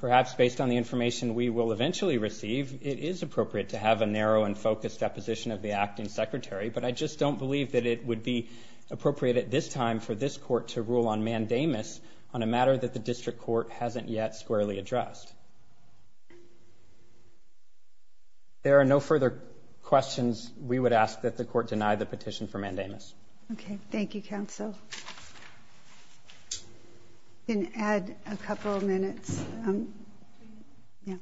perhaps based on the information we will eventually receive, it is appropriate to have a narrow and focused deposition of the acting secretary. But I just don't believe that it would be appropriate at this time for this court to rule on mandamus on a matter that the district court hasn't yet squarely addressed. There are no further questions. We would ask that the court deny the petition for mandamus. Okay. Thank you, counsel. And add a couple of minutes. Yeah.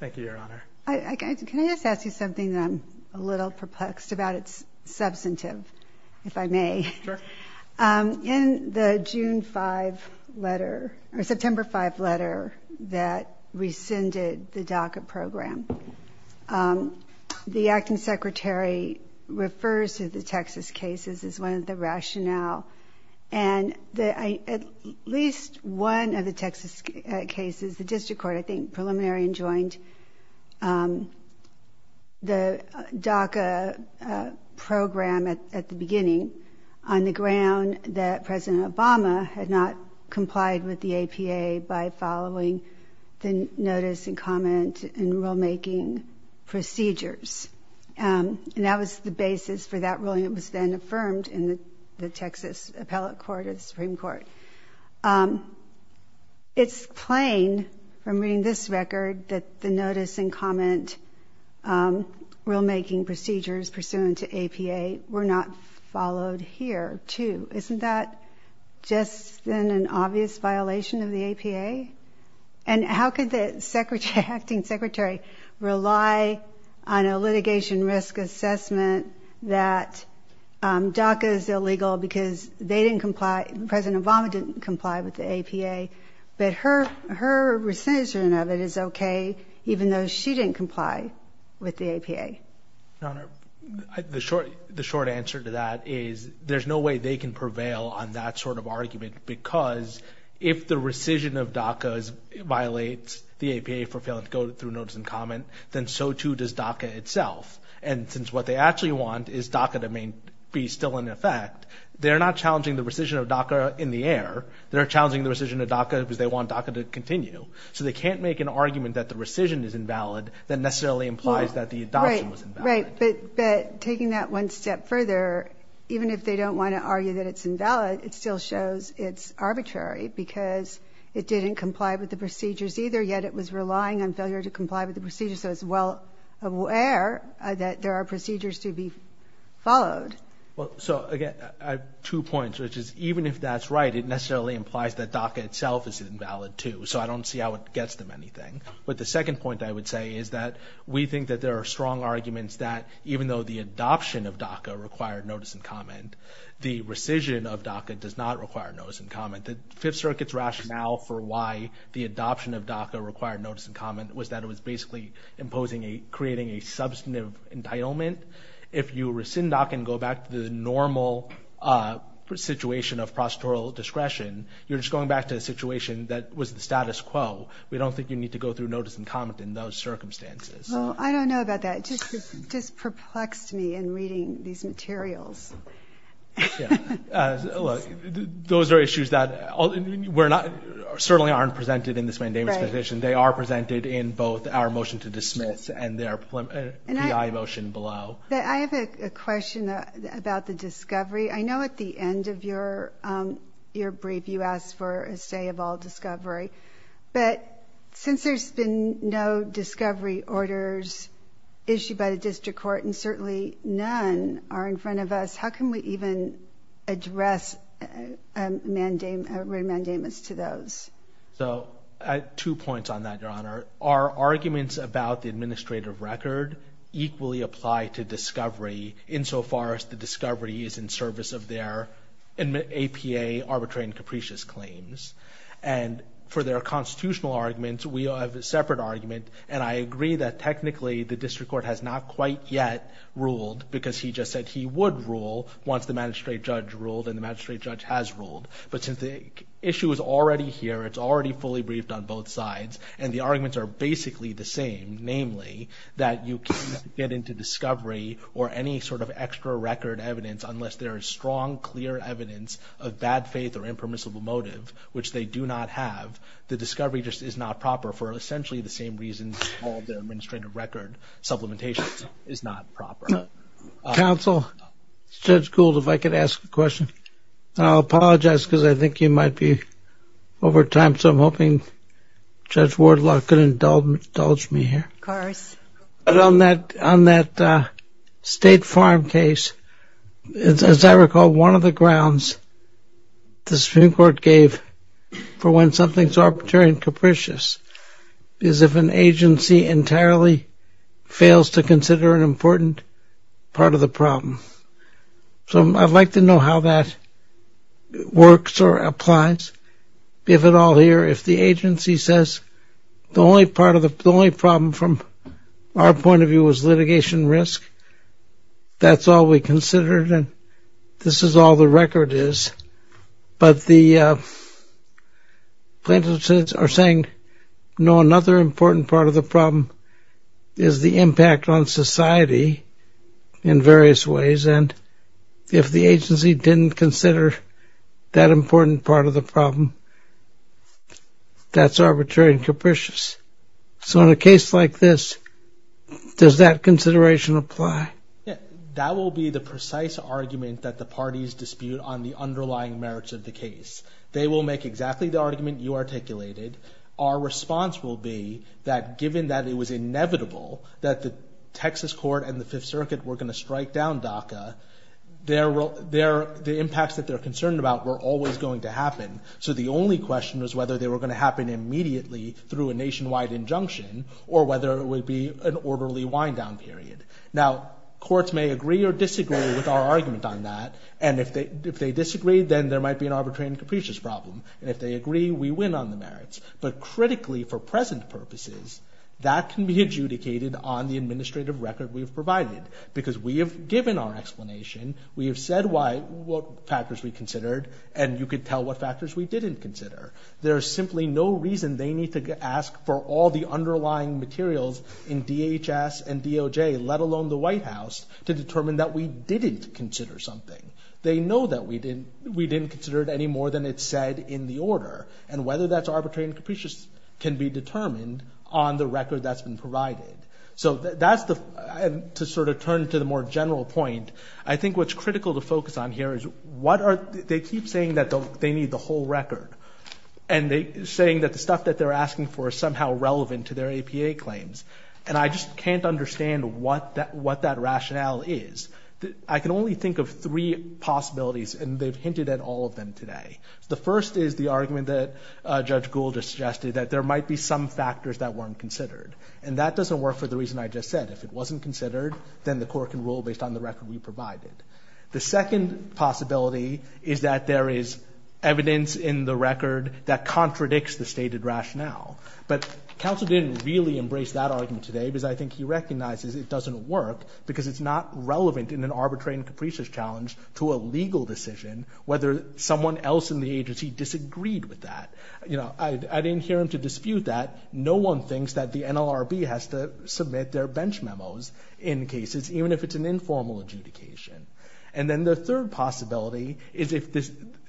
Thank you, Your Honor. Can I just ask you something that I'm a little perplexed about? It's substantive, if I may. Sure. In the June 5 letter, or September 5 letter that rescinded the DACA program, the acting secretary refers to the Texas cases as one of the rationale. And at least one of the Texas cases, the district court I think preliminary and joined the DACA program at the beginning on the ground that President Obama had not complied with the APA by following the notice and comment and rulemaking procedures. And that was the basis for that ruling. It was then affirmed in the Texas appellate court or the Supreme Court. It's plain from reading this record that the notice and comment rulemaking procedures pursuant to APA were not followed here, too. Isn't that just then an obvious violation of the APA? And how could the acting secretary rely on a litigation risk assessment that DACA is illegal because they didn't comply, President Obama didn't comply with the APA, but her rescission of it is okay even though she didn't comply with the APA? Your Honor, the short answer to that is there's no way they can prevail on that sort of argument because if the rescission of DACA violates the APA for failing to go through notice and comment, then so, too, does DACA itself. And since what they actually want is DACA to be still in effect, they're not challenging the rescission of DACA in the air. They're challenging the rescission of DACA because they want DACA to continue. So they can't make an argument that the rescission is invalid that necessarily implies that the adoption was invalid. Right, but taking that one step further, even if they don't want to argue that it's invalid, it still shows it's arbitrary because it didn't comply with the procedures either, yet it was relying on failure to comply with the procedures. So it's well aware that there are procedures to be followed. So, again, I have two points, which is even if that's right, it necessarily implies that DACA itself is invalid, too. So I don't see how it gets them anything. But the second point I would say is that we think that there are strong arguments that even though the adoption of DACA required notice and comment, the rescission of DACA does not require notice and comment. The Fifth Circuit's rationale for why the adoption of DACA required notice and comment was that it was basically creating a substantive entitlement. If you rescind DACA and go back to the normal situation of prosecutorial discretion, you're just going back to a situation that was the status quo. We don't think you need to go through notice and comment in those circumstances. Well, I don't know about that. It just perplexed me in reading these materials. Those are issues that certainly aren't presented in this mandamus petition. They are presented in both our motion to dismiss and their PI motion below. I have a question about the discovery. I know at the end of your brief you asked for a stay of all discovery. But since there's been no discovery orders issued by the district court and certainly none are in front of us, how can we even address remandamus to those? I have two points on that, Your Honor. Our arguments about the administrative record equally apply to discovery insofar as the discovery is in service of their APA arbitrary and capricious claims. For their constitutional arguments, we have a separate argument, and I agree that technically the district court has not quite yet ruled because he just said he would rule once the magistrate judge ruled and the magistrate judge has ruled. But since the issue is already here, it's already fully briefed on both sides, and the arguments are basically the same, namely, that you can't get into discovery or any sort of extra record evidence unless there is strong, clear evidence of bad faith or impermissible motive, which they do not have. The discovery just is not proper for essentially the same reasons all the administrative record supplementation is not proper. Counsel, Judge Gould, if I could ask a question. I'll apologize because I think you might be over time, so I'm hoping Judge Wardlock can indulge me here. Of course. On that State Farm case, as I recall, one of the grounds the Supreme Court gave for when something is arbitrary and capricious is if an agency entirely fails to consider an important part of the problem. So I'd like to know how that works or applies. We have it all here. If the agency says the only problem from our point of view was litigation risk, that's all we considered and this is all the record is, but the plaintiffs are saying no, another important part of the problem is the impact on society in various ways and if the agency didn't consider that important part of the problem, that's arbitrary and capricious. So in a case like this, does that consideration apply? That will be the precise argument that the parties dispute on the underlying merits of the case. They will make exactly the argument you articulated. Our response will be that given that it was inevitable that the Texas court and the Fifth Circuit were going to strike down DACA, the impacts that they're concerned about were always going to happen, so the only question was whether they were going to happen immediately through a nationwide injunction or whether it would be an orderly wind-down period. Now, courts may agree or disagree with our argument on that and if they disagree, then there might be an arbitrary and capricious problem and if they agree, we win on the merits. But critically, for present purposes, that can be adjudicated on the administrative record we have provided because we have given our explanation, we have said what factors we considered and you could tell what factors we didn't consider. There is simply no reason they need to ask for all the underlying materials in DHS and DOJ, let alone the White House, to determine that we didn't consider something. They know that we didn't consider it any more than it's said in the order and whether that's arbitrary and capricious can be determined on the record that's been provided. So that's the, to sort of turn to the more general point, I think what's critical to focus on here is what are, they keep saying that they need the whole record and saying that the stuff that they're asking for is somehow relevant to their APA claims and I just can't understand what that rationale is. I can only think of three possibilities and they've hinted at all of them today. The first is the argument that Judge Gould just suggested that there might be some factors that weren't considered and that doesn't work for the reason I just said. If it wasn't considered, then the court can rule based on the record we provided. The second possibility is that there is evidence in the record that contradicts the stated rationale. But counsel didn't really embrace that argument today because I think he recognizes it doesn't work because it's not relevant in an arbitrary and capricious challenge to a legal decision whether someone else in the agency disagreed with that. I didn't hear him to dispute that. No one thinks that the NLRB has to submit their bench memos in cases even if it's an informal adjudication. And then the third possibility is if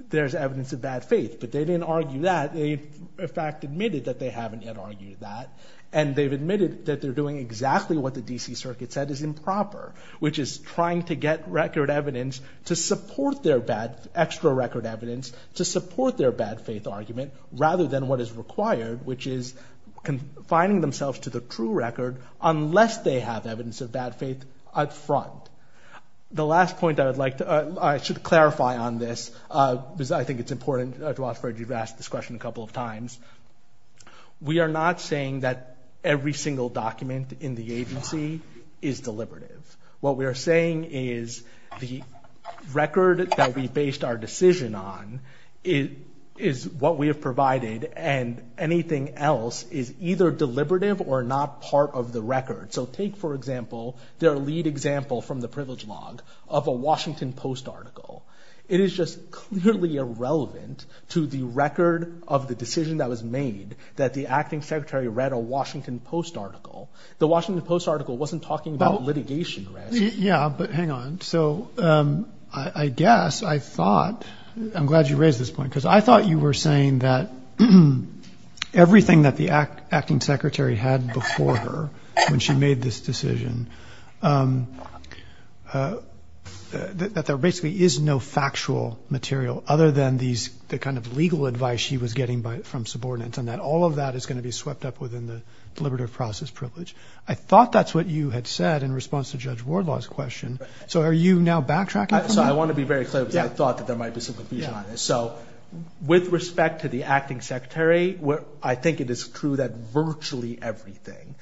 there's evidence of bad faith. But they didn't argue that. They in fact admitted that they haven't yet argued that and they've admitted that they're doing exactly what the D.C. Circuit said is improper, which is trying to get record evidence to support their bad, extra record evidence to support their bad faith argument rather than what is required, which is confining themselves to the true record unless they have evidence of bad faith up front. The last point I would like to, I should clarify on this because I think it's important to offer, you've asked this question a couple of times. We are not saying that every single document in the agency is deliberative. What we are saying is the record that we based our decision on is what we have provided and anything else is either deliberative or not part of the record. So take, for example, their lead example from the Privilege Log of a Washington Post article. It is just clearly irrelevant to the record of the decision that was made that the acting secretary read a Washington Post article. The Washington Post article wasn't talking about litigation. Yeah, but hang on. So I guess I thought, I'm glad you raised this point because I thought you were saying that everything that the acting secretary had before her when she made this decision, that there basically is no factual material other than the kind of legal advice she was getting from subordinates and that all of that is going to be swept up within the deliberative process privilege. I thought that's what you had said in response to Judge Wardlaw's question. So are you now backtracking from that? So I want to be very clear because I thought that there might be some confusion on this. So with respect to the acting secretary, I think it is true that virtually everything,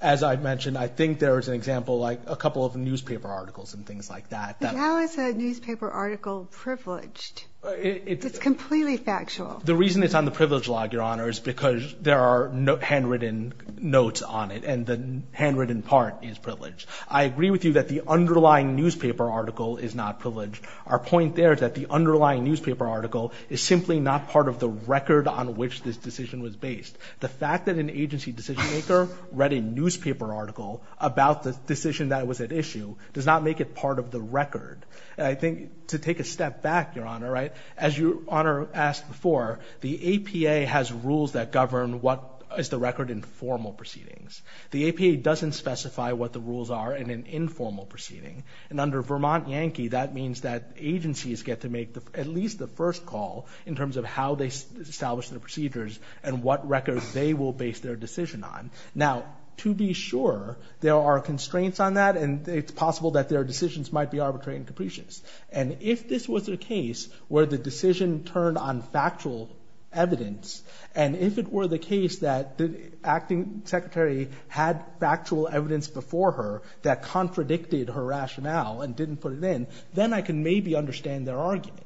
as I mentioned, I think there is an example like a couple of newspaper articles and things like that. But how is a newspaper article privileged? It's completely factual. The reason it's on the privilege log, Your Honor, is because there are handwritten notes on it and the handwritten part is privileged. I agree with you that the underlying newspaper article is not privileged. Our point there is that the underlying newspaper article is simply not part of the record on which this decision was based. The fact that an agency decision maker read a newspaper article about the decision that was at issue does not make it part of the record. And I think to take a step back, Your Honor, as Your Honor asked before, the APA has rules that govern what is the record in formal proceedings. The APA doesn't specify what the rules are in an informal proceeding. And under Vermont Yankee, that means that agencies get to make at least the first call in terms of how they establish their procedures and what record they will base their decision on. Now, to be sure, there are constraints on that and it's possible that their decisions might be arbitrary and capricious. And if this was a case where the decision turned on factual evidence and if it were the case that the acting secretary had factual evidence before her that contradicted her rationale and didn't put it in, then I can maybe understand their argument.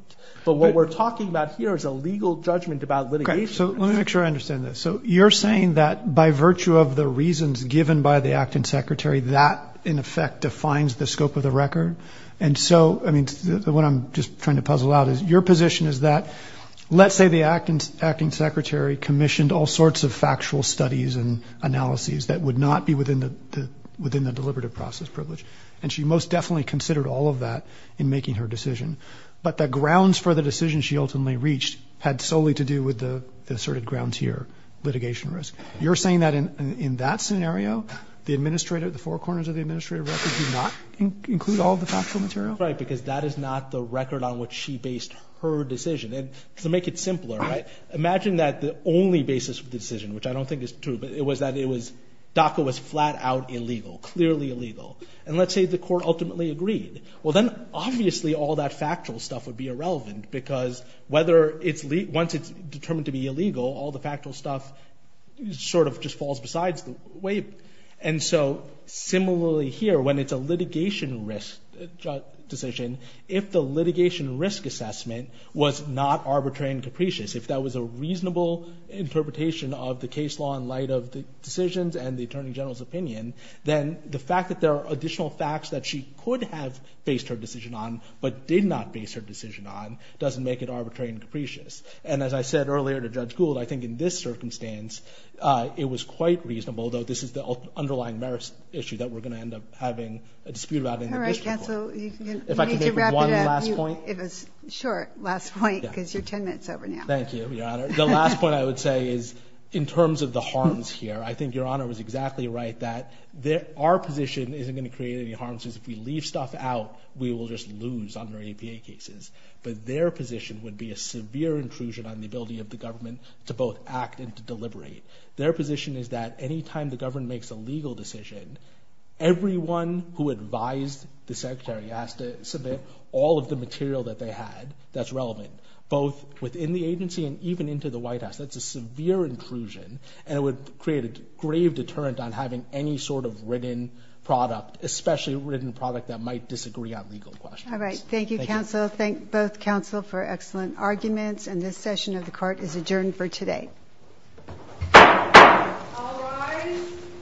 But what we're talking about here is a legal judgment about litigation. Okay, so let me make sure I understand this. So you're saying that by virtue of the reasons given by the acting secretary, that in effect defines the scope of the record? And so, I mean, what I'm just trying to puzzle out is, your position is that let's say the acting secretary commissioned all sorts of factual studies and analyses that would not be within the deliberative process privilege. And she most definitely considered all of that in making her decision. But the grounds for the decision she ultimately reached had solely to do with the asserted grounds here, litigation risk. You're saying that in that scenario, the four corners of the administrative record do not include all the factual material? Right, because that is not the record on which she based her decision. And to make it simpler, imagine that the only basis of the decision, which I don't think is true, but it was that DACA was flat-out illegal, clearly illegal. And let's say the court ultimately agreed. Well, then obviously all that factual stuff would be irrelevant because once it's determined to be illegal, all the factual stuff sort of just falls besides the weight. And so similarly here, when it's a litigation risk decision, if the litigation risk assessment was not arbitrary and capricious, if that was a reasonable interpretation of the case law in light of the decisions and the attorney general's opinion, then the fact that there are additional facts that she could have based her decision on but did not base her decision on doesn't make it arbitrary and capricious. And as I said earlier to Judge Gould, I think in this circumstance, it was quite reasonable, though this is the underlying merits issue that we're going to end up having a dispute about. All right, counsel, you need to wrap it up. If I could make one last point. It was a short last point because you're 10 minutes over now. Thank you, Your Honor. The last point I would say is in terms of the harms here, I think Your Honor was exactly right that our position isn't going to create any harms because if we leave stuff out, we will just lose under APA cases. But their position would be a severe intrusion on the ability of the government to both act and to deliberate. Their position is that any time the government makes a legal decision, everyone who advised the Secretary has to submit all of the material that they had that's relevant, both within the agency and even into the White House. That's a severe intrusion, and it would create a grave deterrent on having any sort of written product, especially a written product that might disagree on legal questions. All right. Thank you, counsel. Thank both counsel for excellent arguments, and this session of the court is adjourned for today. All rise.